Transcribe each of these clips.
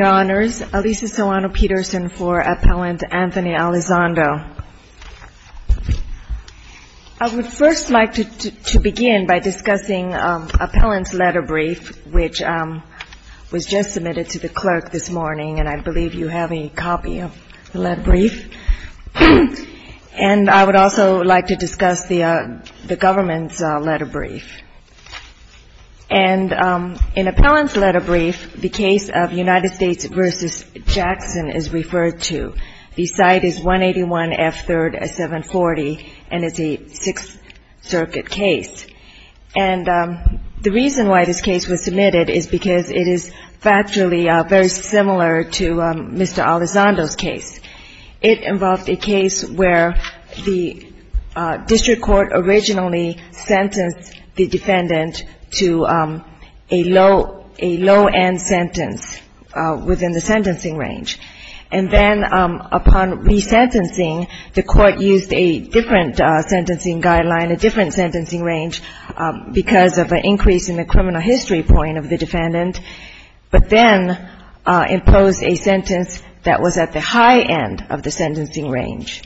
I would first like to begin by discussing appellant's letter brief, which was just submitted to the clerk this morning, and I believe you have a copy of the letter brief. And I would also like to discuss the government's letter brief. And in appellant's letter brief, the case of United States v. Jackson is referred to. The site is 181 F. 3rd, 740, and it's a Sixth Circuit case. And the reason why this case was submitted is because it is factually very similar to Mr. Alizondo's case. It involved a case where the district court originally sentenced the defendant to a low-end sentence within the sentencing range. And then upon resentencing, the court used a different sentencing guideline, a different sentencing range, because of an increase in the criminal history point of the defendant, but then imposed a sentence that was at the high end of the sentencing range.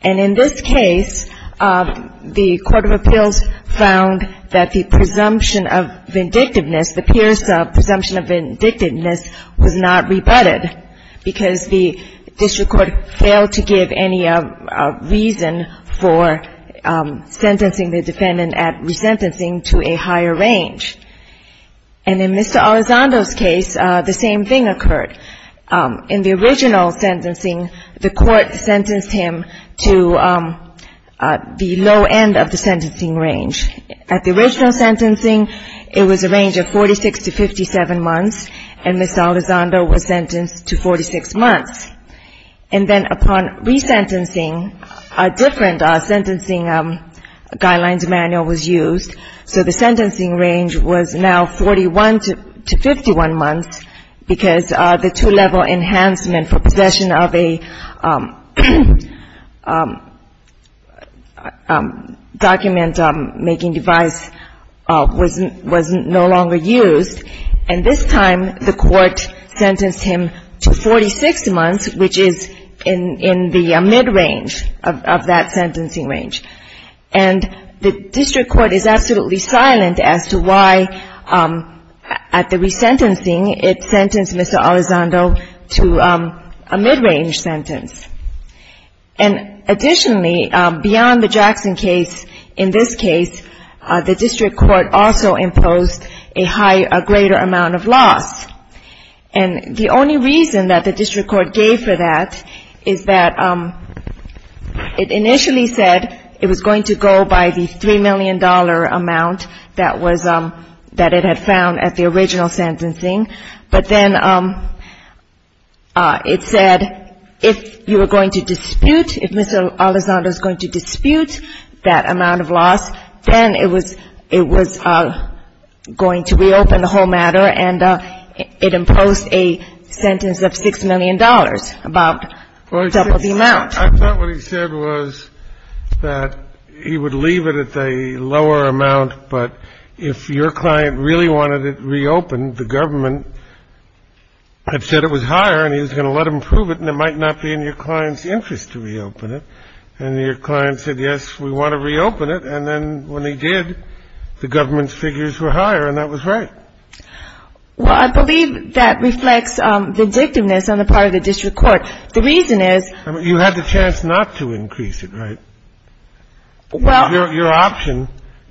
And in this case, the court of appeals found that the presumption of vindictiveness, the Pierce presumption of vindictiveness, was not rebutted because the district court failed to give any reason for sentencing the defendant at resentencing to a higher range. And in Mr. Alizondo's case, the same thing occurred. In the original sentencing, the court sentenced him to the low end of the sentencing range. At the original sentencing, it was a range of 46 to 57 months, and Mr. Alizondo was sentenced to 46 months. And then upon resentencing, a different sentencing guidelines manual was used. So the sentencing range was now 41 to 51 months, because the two-level enhancement for possession of a document-making device was no longer used. And this time, the court sentenced him to 46 months, which is in the mid-range of that sentencing range. And the district court is absolutely silent as to why, at the resentencing, it sentenced Mr. Alizondo to a mid-range sentence. And additionally, beyond the Jackson case, in this case, the district court also imposed a greater amount of loss. And the only reason that the district court gave for that is that it initially said it was going to go by the $3 million amount that it had found at the original sentencing. But then it said if you were going to dispute, if Mr. Alizondo is going to dispute that amount of loss, then it was going to reopen the whole matter. And it imposed a sentence of $6 million, about double the amount. I thought what he said was that he would leave it at a lower amount, but if your client really wanted it reopened, the government had said it was higher and he was going to let them prove it, and it might not be in your client's interest to reopen it. And your client said, yes, we want to reopen it. And then when he did, the government's figures were higher, and that was right. Well, I believe that reflects the dictiveness on the part of the district court. The reason is — I mean, you had the chance not to increase it, right? Well — Your option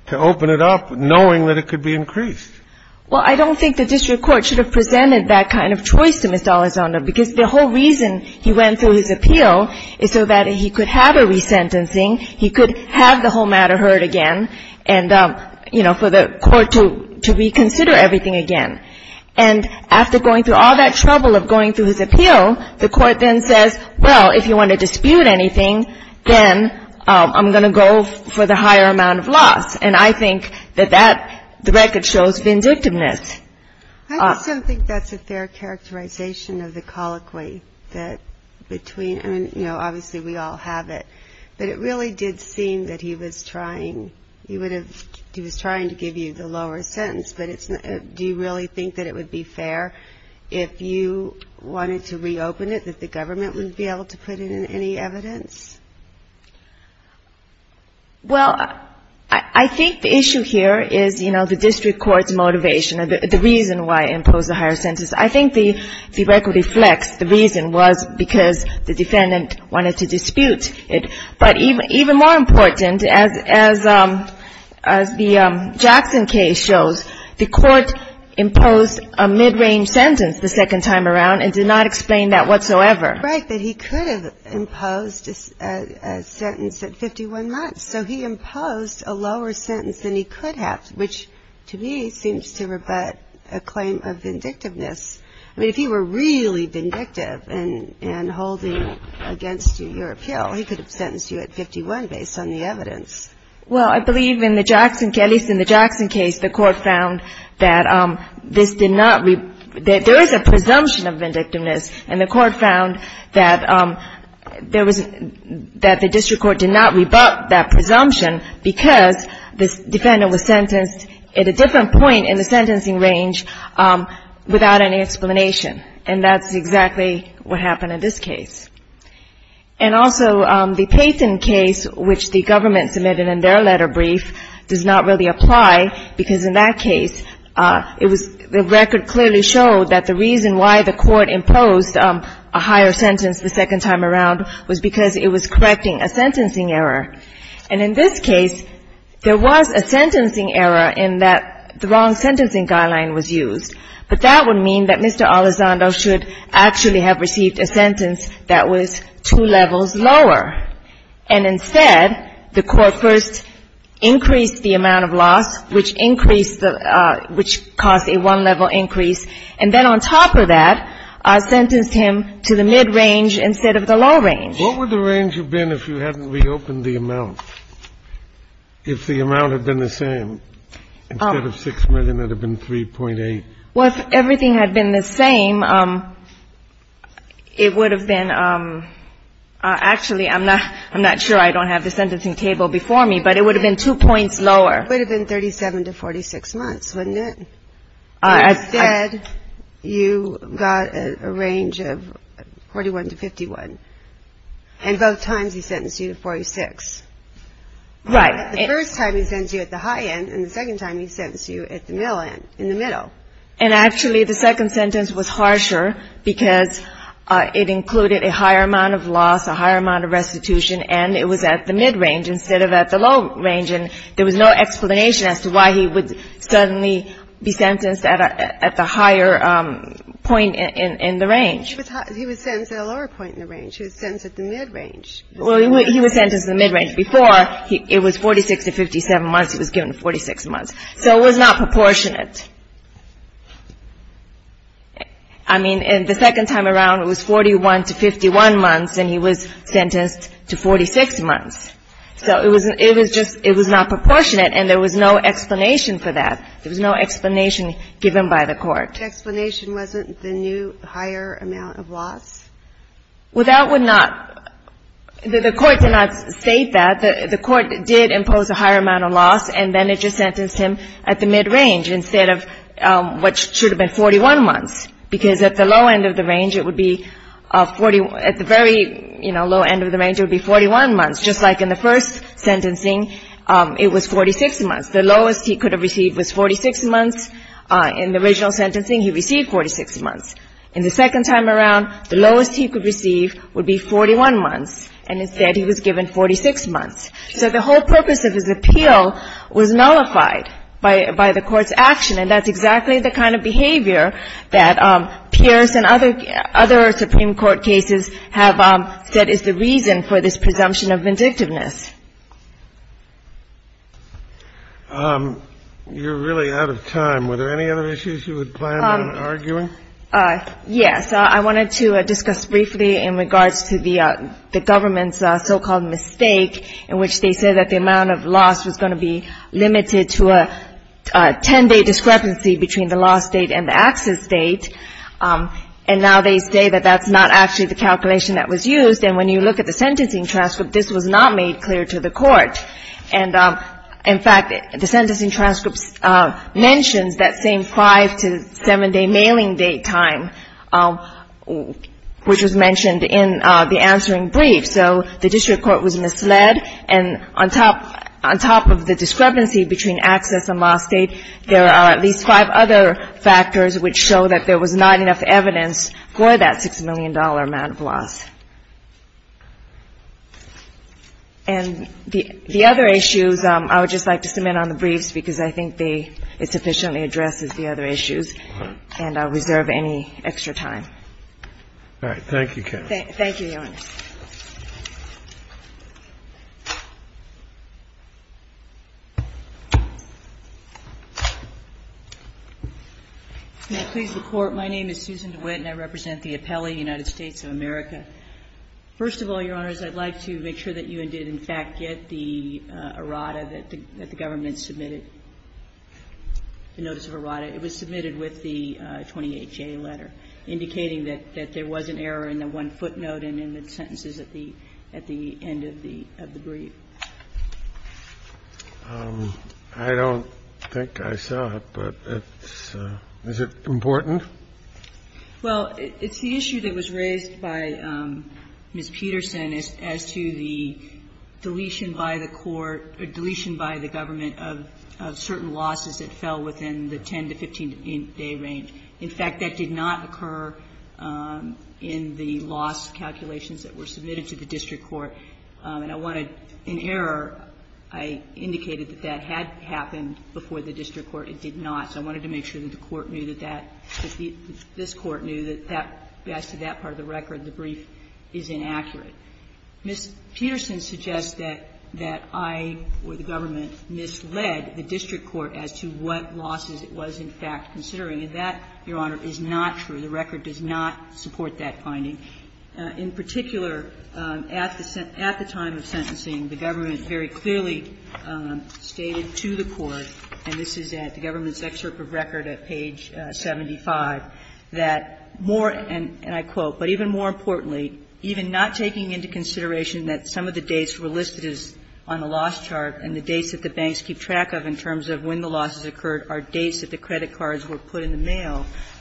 to open it up knowing that it could be increased. Well, I don't think the district court should have presented that kind of choice to Mr. Alizondo, because the whole reason he went through his appeal is so that he could have a resentencing, he could have the whole matter heard again, and, you know, for the court to reconsider everything again. And after going through all that trouble of going through his appeal, the court then says, well, if you want to dispute anything, then I'm going to go for the higher amount of loss. And I think that that — the record shows vindictiveness. I also think that's a fair characterization of the colloquy that between — I mean, you know, obviously we all have it, but it really did seem that he was trying — he would have — he was trying to give you the lower sentence, but it's — do you really think that it would be fair if you wanted to reopen it, that the government would be able to put in any evidence? Well, I think the issue here is, you know, the district court's motivation, the reason why it imposed the higher sentence. I think the record reflects the reason was because the defendant wanted to dispute it. But even more important, as the Jackson case shows, the court imposed a mid-range sentence the second time around and did not explain that whatsoever. Right, that he could have imposed a sentence at 51 months. So he imposed a lower sentence than he could have, which to me seems to rebut a claim of vindictiveness. I mean, if he were really vindictive in holding against your appeal, he could have sentenced you at 51 based on the evidence. Well, I believe in the Jackson — at least in the Jackson case, the court found that this did not — that there is a presumption of vindictiveness, and the court found that there was — that the district court did not rebut that presumption because the defendant was sentenced at a different point in the sentencing range without any explanation. And that's exactly what happened in this case. And also, the Payton case, which the government submitted in their letter brief, does not really apply, because in that case, it was — the record clearly showed that the reason why the court imposed a higher sentence the second time around was because it was correcting a sentencing error. And in this case, there was a sentencing error in that the wrong sentencing guideline was used. But that would mean that Mr. Elizondo should actually have received a sentence that was two levels lower. And instead, the court first increased the amount of loss, which increased the — which caused a one-level increase. And then on top of that, sentenced him to the mid-range instead of the low range. What would the range have been if you hadn't reopened the amount, if the amount had been the same? Instead of 6 million, it would have been 3.8. Well, if everything had been the same, it would have been — actually, I'm not — I'm not sure. I don't have the sentencing table before me. But it would have been two points lower. It would have been 37 to 46 months, wouldn't it? Instead, you got a range of 41 to 51. And both times he sentenced you to 46. Right. The first time he sentenced you at the high end, and the second time he sentenced you at the middle end, in the middle. And actually, the second sentence was harsher because it included a higher amount of loss, a higher amount of restitution, and it was at the mid-range instead of at the low range. And there was no explanation as to why he would suddenly be sentenced at the higher point in the range. He was sentenced at a lower point in the range. He was sentenced at the mid-range. Well, he was sentenced at the mid-range before. It was 46 to 57 months. He was given 46 months. So it was not proportionate. I mean, the second time around, it was 41 to 51 months, and he was sentenced to 46 months. So it was just, it was not proportionate, and there was no explanation for that. There was no explanation given by the Court. The explanation wasn't the new higher amount of loss? Well, that would not – the Court did not state that. The Court did impose a higher amount of loss, and then it just sentenced him at the mid-range instead of what should have been 41 months, because at the low end of the range, it would be 41 – at the very, you know, low end of the range, it would be 41 months, just like in the first sentencing, it was 46 months. The lowest he could have received was 46 months. In the original sentencing, he received 46 months. In the second time around, the lowest he could receive would be 41 months, and instead he was given 46 months. So the whole purpose of his appeal was nullified by the Court's action, and that's other Supreme Court cases have said is the reason for this presumption of vindictiveness. You're really out of time. Were there any other issues you would plan on arguing? Yes. I wanted to discuss briefly in regards to the government's so-called mistake in which they said that the amount of loss was going to be limited to a 10-day discrepancy between the loss date and the access date. And now they say that that's not actually the calculation that was used. And when you look at the sentencing transcript, this was not made clear to the Court. And in fact, the sentencing transcript mentions that same 5- to 7-day mailing date time, which was mentioned in the answering brief. So the district court was misled. And on top of the discrepancy between access and loss date, there are at least five other factors which show that there was not enough evidence for that $6 million amount of loss. And the other issues, I would just like to submit on the briefs, because I think they – it sufficiently addresses the other issues. And I'll reserve any extra time. All right. Thank you, Kathy. Thank you, Your Honor. Can I please report? My name is Susan DeWitt, and I represent the appellee, United States of America. First of all, Your Honors, I'd like to make sure that you did, in fact, get the errata that the government submitted, the notice of errata. It was submitted with the 28-J letter indicating that there was an error in the one-foot note and in the sentences at the end of the brief. I don't think I saw it, but it's – is it important? Well, it's the issue that was raised by Ms. Peterson as to the deletion by the court or deletion by the government of certain losses that fell within the 10- to 15-day range. In fact, that did not occur in the loss calculations that were submitted to the district court. And I want to – in error, I indicated that that had happened before the district court. It did not. So I wanted to make sure that the court knew that that – that this court knew that that – as to that part of the record, the brief is inaccurate. Ms. Peterson suggests that I or the government misled the district court as to what losses it was, in fact, considering. And that, Your Honor, is not true. The record does not support that finding. In particular, at the time of sentencing, the government very clearly stated to the court, and this is at the government's excerpt of record at page 75, that more, and I quote, The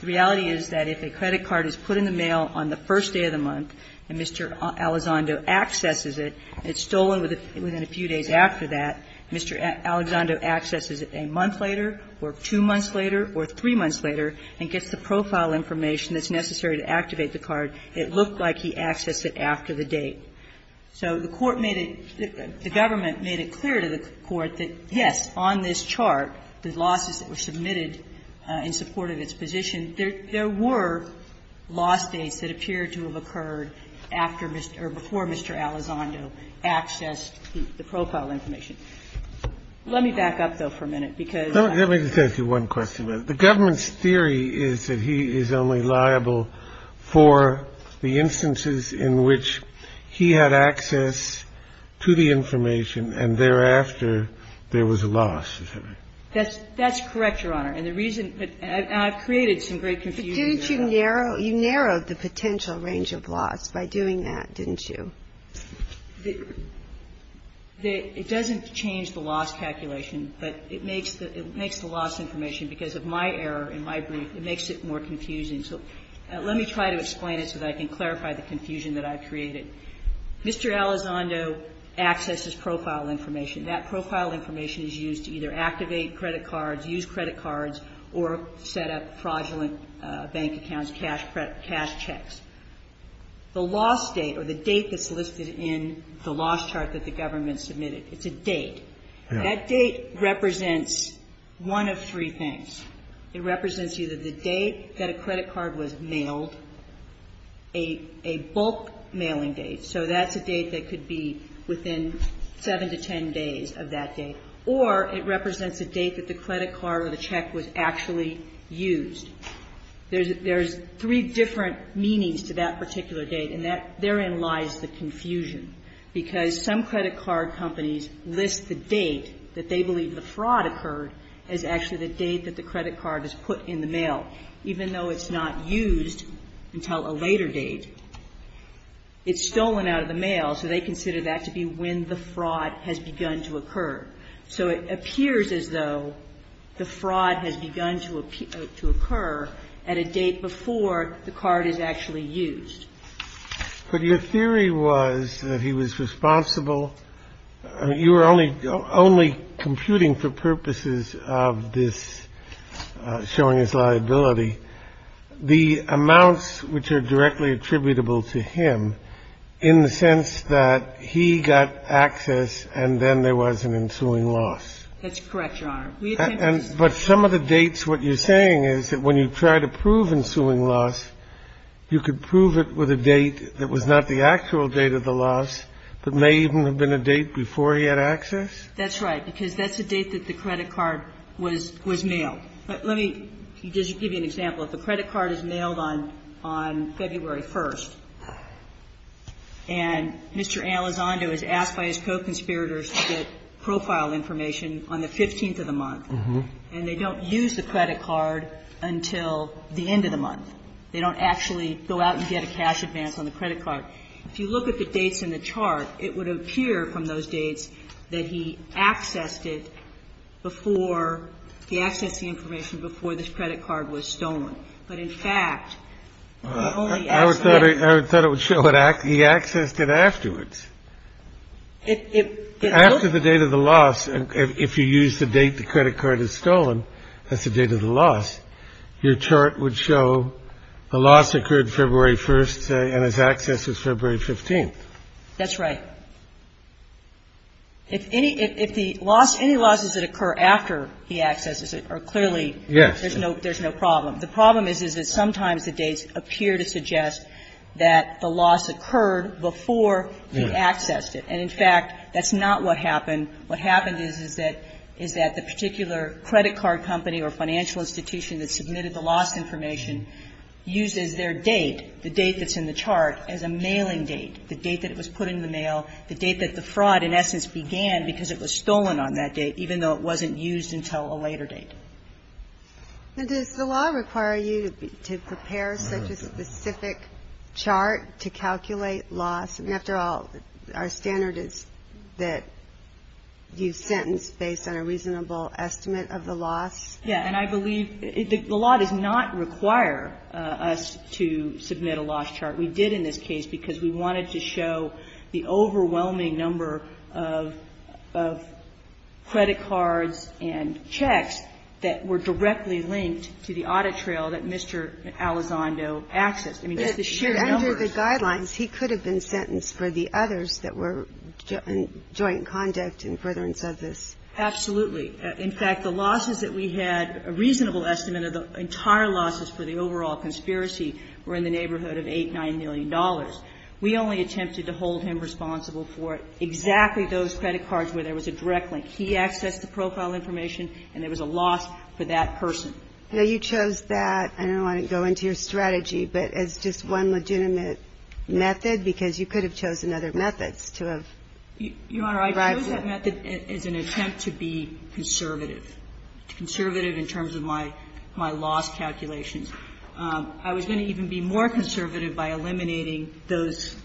reality is that if a credit card is put in the mail on the first day of the month and Mr. Alessandro accesses it, it's stolen within a few days after that, Mr. Alessandro accesses it a month later or two months later or three months later and gets the profile information that's necessary to activate the card to the court. And I quote, accesses it a month later or three months later, it looked like he accessed it after the date. So the court made it – the government made it clear to the court that, yes, on this day, Mr. Alessandro had access to the information, and thereafter, there was a loss. Is that right? That's correct, Your Honor. And the reason – and I've created some great confusion there. But didn't you narrow – you narrowed the potential range of loss by doing that, didn't you? The – it doesn't change the loss calculation, but it makes the – it makes the loss information, because of my error in my brief, it makes it more confusing. So let me try to explain it so that I can clarify the confusion that I've created. Mr. Alessandro accesses profile information. That profile information is used to either activate credit cards, use credit cards, or set up fraudulent bank accounts, cash checks. The loss date or the date that's listed in the loss chart that the government submitted, it's a date. That date represents one of three things. It represents either the date that a credit card was mailed, a bulk mailing date, so that's a date that could be within 7 to 10 days of that date, or it represents a date that the credit card or the check was actually used. There's three different meanings to that particular date, and therein lies the confusion, because some credit card companies list the date that they believe the fraud occurred as actually the date that the credit card is put in the mail. Even though it's not used until a later date, it's stolen out of the mail, so they consider that to be when the fraud has begun to occur. So it appears as though the fraud has begun to occur at a date before the card is actually used. But your theory was that he was responsible. I mean, you were only computing for purposes of this showing his liability the amounts which are directly attributable to him in the sense that he got access and then there was an ensuing loss. That's correct, Your Honor. But some of the dates, what you're saying is that when you try to prove ensuing loss, you could prove it with a date that was not the actual date of the loss, but may even have been a date before he had access? That's right, because that's the date that the credit card was mailed. Let me just give you an example. If the credit card is mailed on February 1st, and Mr. Elizondo is asked by his co-conspirators to get profile information on the 15th of the month, and they don't use the credit card until the end of the month, they don't actually go out and get a cash advance on the credit card, if you look at the dates in the chart, it would appear from those dates that he accessed it before he accessed the information before this credit card was stolen, but in fact, he only accessed it. I thought it would show he accessed it afterwards. After the date of the loss, if you use the date the credit card is stolen, that's the date of the loss, your chart would show the loss occurred February 1st and his access is February 15th. That's right. If any of the losses that occur after he accesses it are clearly, there's no problem. The problem is that sometimes the dates appear to suggest that the loss occurred before he accessed it. And in fact, that's not what happened. What happened is that the particular credit card company or financial institution that submitted the loss information uses their date, the date that's in the chart, as a mailing date, the date that it was put in the mail, the date that the fraud in essence began because it was stolen on that date, even though it wasn't used until a later date. And does the law require you to prepare such a specific chart to calculate loss? I mean, after all, our standard is that you sentence based on a reasonable estimate of the loss. Yeah. And I believe the law does not require us to submit a loss chart. We did in this case because we wanted to show the overwhelming number of credit cards and checks that were directly linked to the audit trail that Mr. Alessandro accessed. I mean, just the sheer numbers. But under the guidelines, he could have been sentenced for the others that were joint conduct in furtherance of this. Absolutely. In fact, the losses that we had, a reasonable estimate of the entire losses for the overall conspiracy were in the neighborhood of $8 million, $9 million. We only attempted to hold him responsible for exactly those credit cards where there was a direct link. He accessed the profile information, and there was a loss for that person. Now, you chose that. I don't want to go into your strategy, but as just one legitimate method, because you could have chosen other methods to have arrived at. Your Honor, I chose that method as an attempt to be conservative, conservative in terms of my loss calculations. I was going to even be more conservative by eliminating those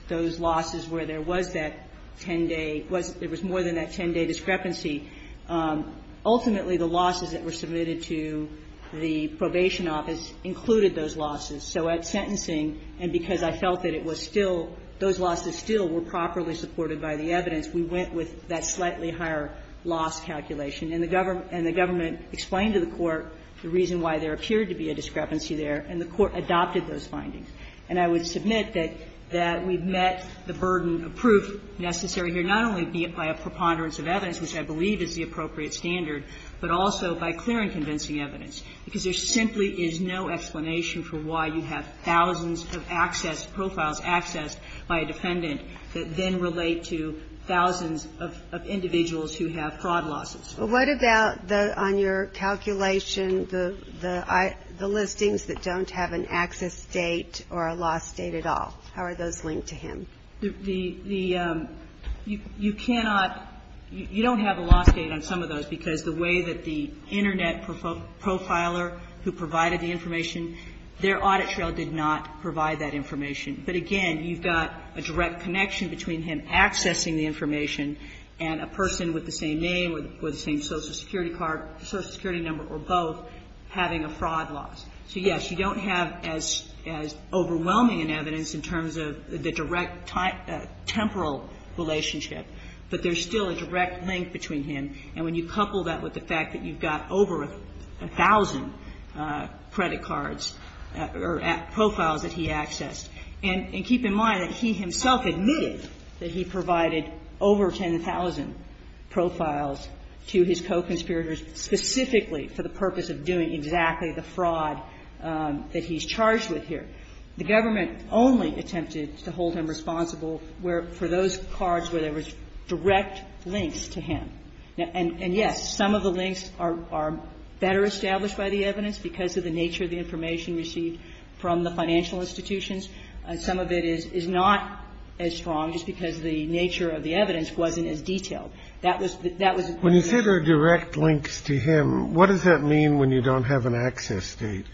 losses where there was that 10-day – there was more than that 10-day discrepancy. Ultimately, the losses that were submitted to the probation office included those losses. So at sentencing, and because I felt that it was still – those losses still were properly supported by the evidence, we went with that slightly higher loss calculation. And the Government explained to the Court the reason why there appeared to be a discrepancy there, and the Court adopted those findings. And I would submit that we've met the burden of proof necessary here, not only by a preponderance of evidence, which I believe is the appropriate standard, but also by clear and convincing evidence, because there simply is no explanation for why you have thousands of access – profiles accessed by a defendant that then relate to thousands of individuals who have fraud losses. But what about the – on your calculation, the listings that don't have an access date or a loss date at all? How are those linked to him? The – you cannot – you don't have a loss date on some of those, because the way that the Internet profiler who provided the information, their audit trail did not provide that information. But again, you've got a direct connection between him accessing the information and a person with the same name or the same Social Security card, Social Security number, or both, having a fraud loss. So, yes, you don't have as – as overwhelming an evidence in terms of the direct temporal relationship, but there's still a direct link between him. And when you couple that with the fact that you've got over a thousand credit cards or profiles that he accessed, and keep in mind that he himself admitted that he provided over 10,000 profiles to his co-conspirators specifically for the purpose of doing exactly the fraud that he's charged with here, the government only attempted to hold him responsible where – for those cards where there was direct links to him. And, yes, some of the links are better established by the evidence because of the nature of the information received from the financial institutions, and some of it is not as strong just because the nature of the evidence wasn't as detailed. That was the – that was the point I was making. When you say there are direct links to him, what does that mean when you don't have an access date?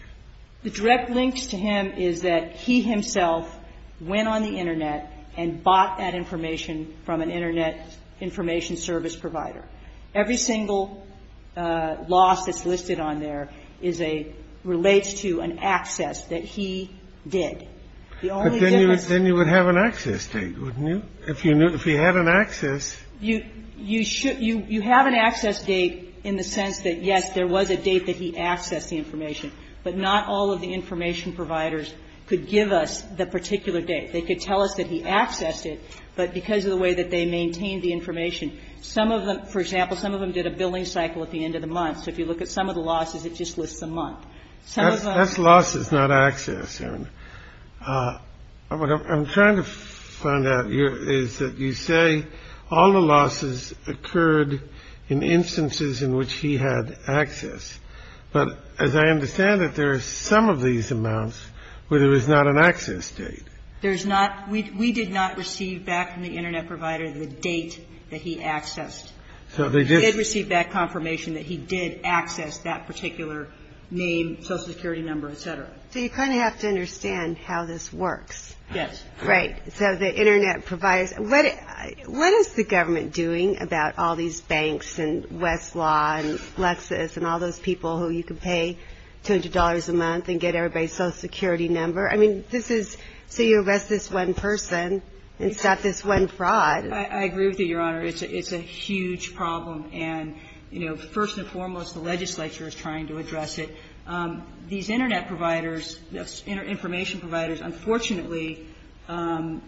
The direct links to him is that he himself went on the Internet and bought that information from an Internet information service provider. Every single loss that's listed on there is a – relates to an access that he did. The only difference is – But then you would have an access date, wouldn't you? If you knew – if you had an access – You should – you have an access date in the sense that, yes, there was a date that he accessed the information, but not all of the information providers could give us the particular date. They could tell us that he accessed it, but because of the way that they maintained the information, some of them – for example, some of them did a billing cycle at the end of the month. So if you look at some of the losses, it just lists the month. Some of them – That's losses, not access, Erin. But what I'm trying to find out here is that you say all the losses occurred in instances in which he had access. But as I understand it, there are some of these amounts where there is not an access date. There's not – we did not receive back from the Internet provider the date that he accessed. So they just – We did receive back confirmation that he did access that particular name, social security number, et cetera. So you kind of have to understand how this works. Yes. Right. So the Internet providers – what is the government doing about all these banks and Westlaw and Lexis and all those people who you can pay $200 a month and get everybody's social security number? I mean, this is – so you arrest this one person and stop this one fraud. I agree with you, Your Honor. It's a huge problem. And, you know, first and foremost, the legislature is trying to address it. These Internet providers, information providers, unfortunately, are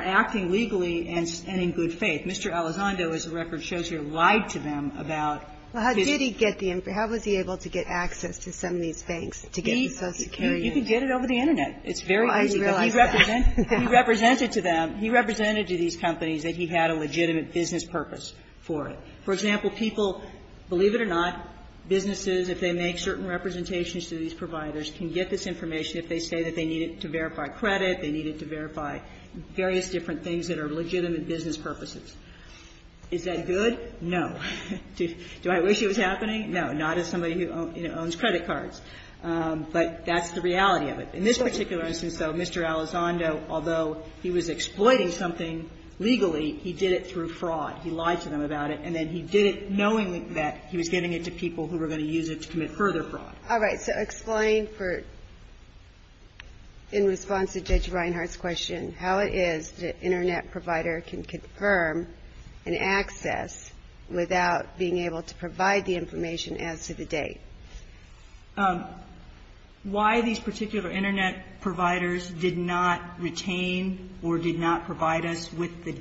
acting legally and in good faith. Mr. Elizondo, as the record shows here, lied to them about this. Well, how did he get the – how was he able to get access to some of these banks to get the social security number? He – you can get it over the Internet. It's very easy. Oh, I didn't realize that. He represented to them – he represented to these companies that he had a legitimate business purpose for it. For example, people, believe it or not, businesses, if they make certain representations to these providers, can get this information if they say that they need it to verify credit, they need it to verify various different things that are legitimate business purposes. Is that good? No. Do I wish it was happening? No. Not as somebody who owns credit cards. But that's the reality of it. In this particular instance, though, Mr. Elizondo, although he was exploiting something legally, he did it through fraud. He lied to them about it. And then he did it knowing that he was giving it to people who were going to use it to commit further fraud. All right. So explain for – in response to Judge Reinhart's question, how it is that an Internet provider can confirm an access without being able to provide the information as to the date. Why these particular Internet providers did not retain or did not provide us with the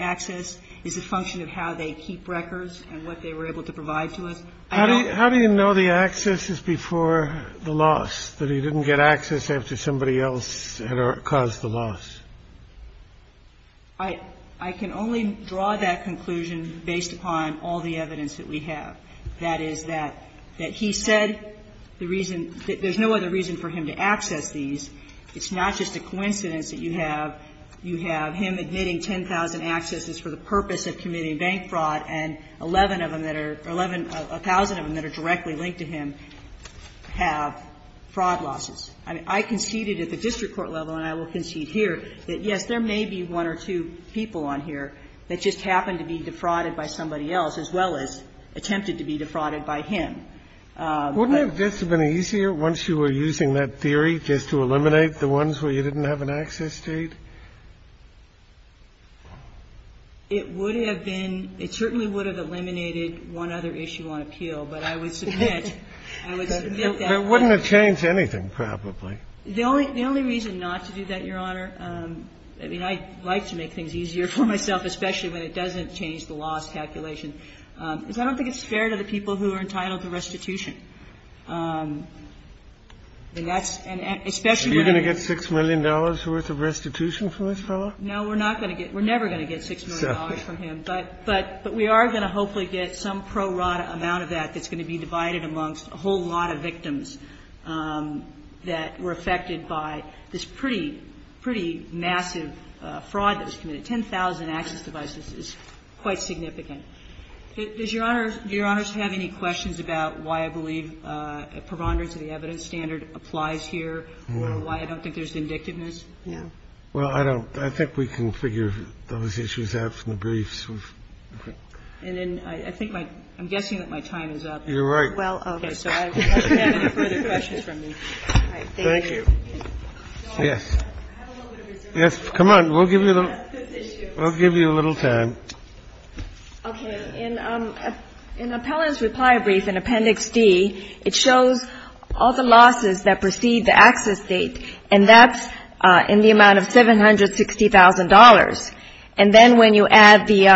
access? Is it a function of how they keep records and what they were able to provide to us? I don't know. How do you know the access is before the loss, that he didn't get access after somebody else had caused the loss? I can only draw that conclusion based upon all the evidence that we have. That is that he said the reason – there's no other reason for him to access these. It's not just a coincidence that you have him admitting 10,000 accesses for the purpose of committing bank fraud, and 11 of them that are – 1,000 of them that are directly linked to him have fraud losses. I conceded at the district court level, and I will concede here, that, yes, there may be one or two people on here that just happened to be defrauded by somebody else, as well as attempted to be defrauded by him. Wouldn't it just have been easier once you were using that theory just to eliminate the ones where you didn't have an access date? It would have been – it certainly would have eliminated one other issue on appeal, but I would submit – I would submit that. It wouldn't have changed anything, probably. The only reason not to do that, Your Honor – I mean, I like to make things easier for myself, especially when it doesn't change the loss calculation – is I don't think it's fair to the people who are entitled to restitution. And that's – and especially when I was – Are you going to get $6 million worth of restitution from this fellow? No, we're not going to get – we're never going to get $6 million from him. But we are going to hopefully get some pro rata amount of that that's going to be divided amongst a whole lot of victims that were affected by this pretty, pretty massive fraud that was committed. 10,000 access devices is quite significant. Does Your Honor – do Your Honors have any questions about why I believe a preponderance of the evidence standard applies here or why I don't think there's indictiveness? No. Well, I don't. I think we can figure those issues out from the briefs. And then I think my – I'm guessing that my time is up. You're right. Well, okay. So I don't have any further questions from you. All right. Thank you. Thank you. Yes. I have a little bit of a reserve. Yes. Come on. We'll give you a little – we'll give you a little time. Okay. In Appellant's reply brief in Appendix D, it shows all the losses that precede the access date, and that's in the amount of $760,000. And then when you add the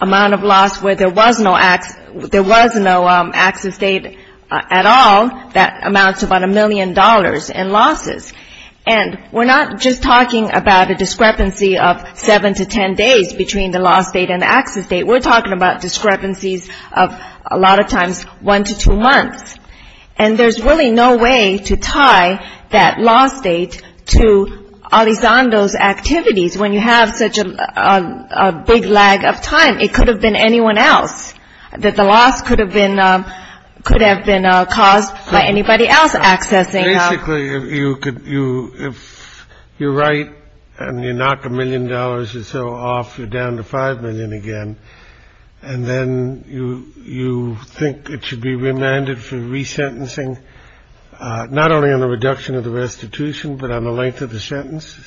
amount of loss where there was no access – there was no access date at all, that amounts to about a million dollars in losses. And we're not just talking about a discrepancy of 7 to 10 days between the loss date and the access date. We're talking about discrepancies of, a lot of times, 1 to 2 months. And there's really no way to tie that loss date to Elizondo's activities. When you have such a big lag of time, it could have been anyone else, that the loss could have been caused by anybody else accessing. Basically, if you're right and you knock a million dollars or so off, you're down to five million again. And then you think it should be remanded for resentencing, not only on the reduction of the restitution, but on the length of the sentence?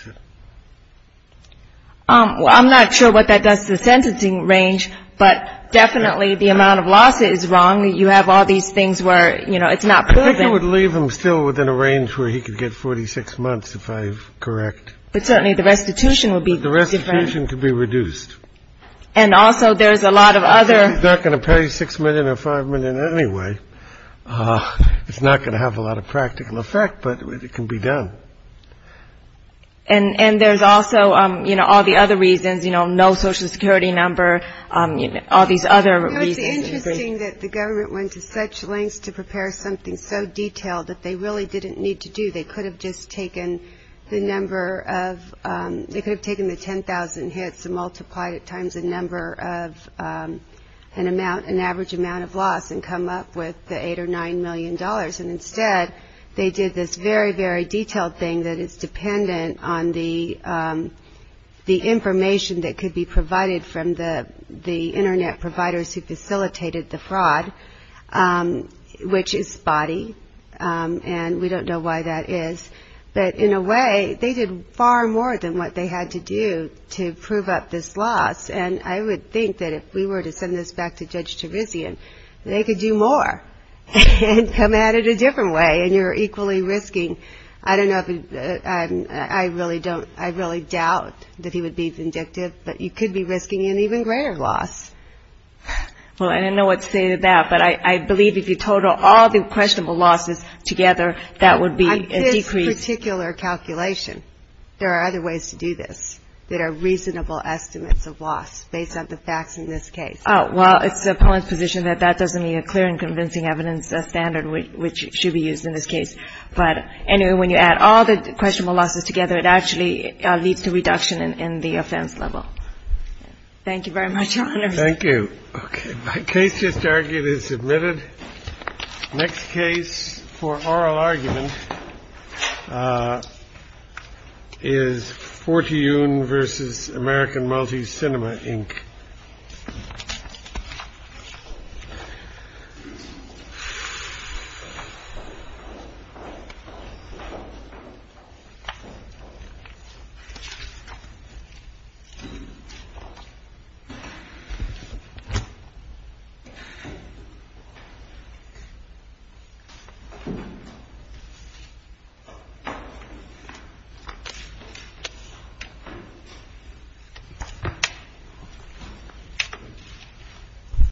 I'm not sure what that does to the sentencing range, but definitely the amount of loss is wrong. You have all these things where, you know, it's not proven. I would leave him still within a range where he could get 46 months, if I'm correct. But certainly the restitution would be different. The restitution could be reduced. And also, there's a lot of other. He's not going to pay six million or five million anyway. It's not going to have a lot of practical effect, but it can be done. And there's also, you know, all the other reasons, you know, no Social Security number, all these other reasons. It's interesting that the government went to such lengths to prepare something so detailed that they really didn't need to do. They could have just taken the number of, they could have taken the 10,000 hits and multiplied it times the number of an amount, an average amount of loss and come up with the eight or nine million dollars. And instead, they did this very, very detailed thing that is dependent on the information that could be provided from the Internet providers who facilitated the fraud, which is spotty. And we don't know why that is. But in a way, they did far more than what they had to do to prove up this loss. And I would think that if we were to send this back to Judge Terizian, they could do more and come at it a different way. And you're equally risking, I don't know, I really don't, I really doubt that he would be vindictive, but you could be risking an even greater loss. Well, I don't know what to say to that, but I believe if you total all the questionable losses together, that would be a decrease. On this particular calculation, there are other ways to do this that are reasonable estimates of loss based on the facts in this case. Oh, well, it's the appellant's position that that doesn't meet a clear and convincing evidence standard which should be used in this case. But anyway, when you add all the questionable losses together, it actually leads to reduction in the offense level. Thank you very much, Your Honor. Thank you. Okay, my case just argued is submitted. Next case for oral argument is Fortune versus American Multi Cinema Inc. Thank you.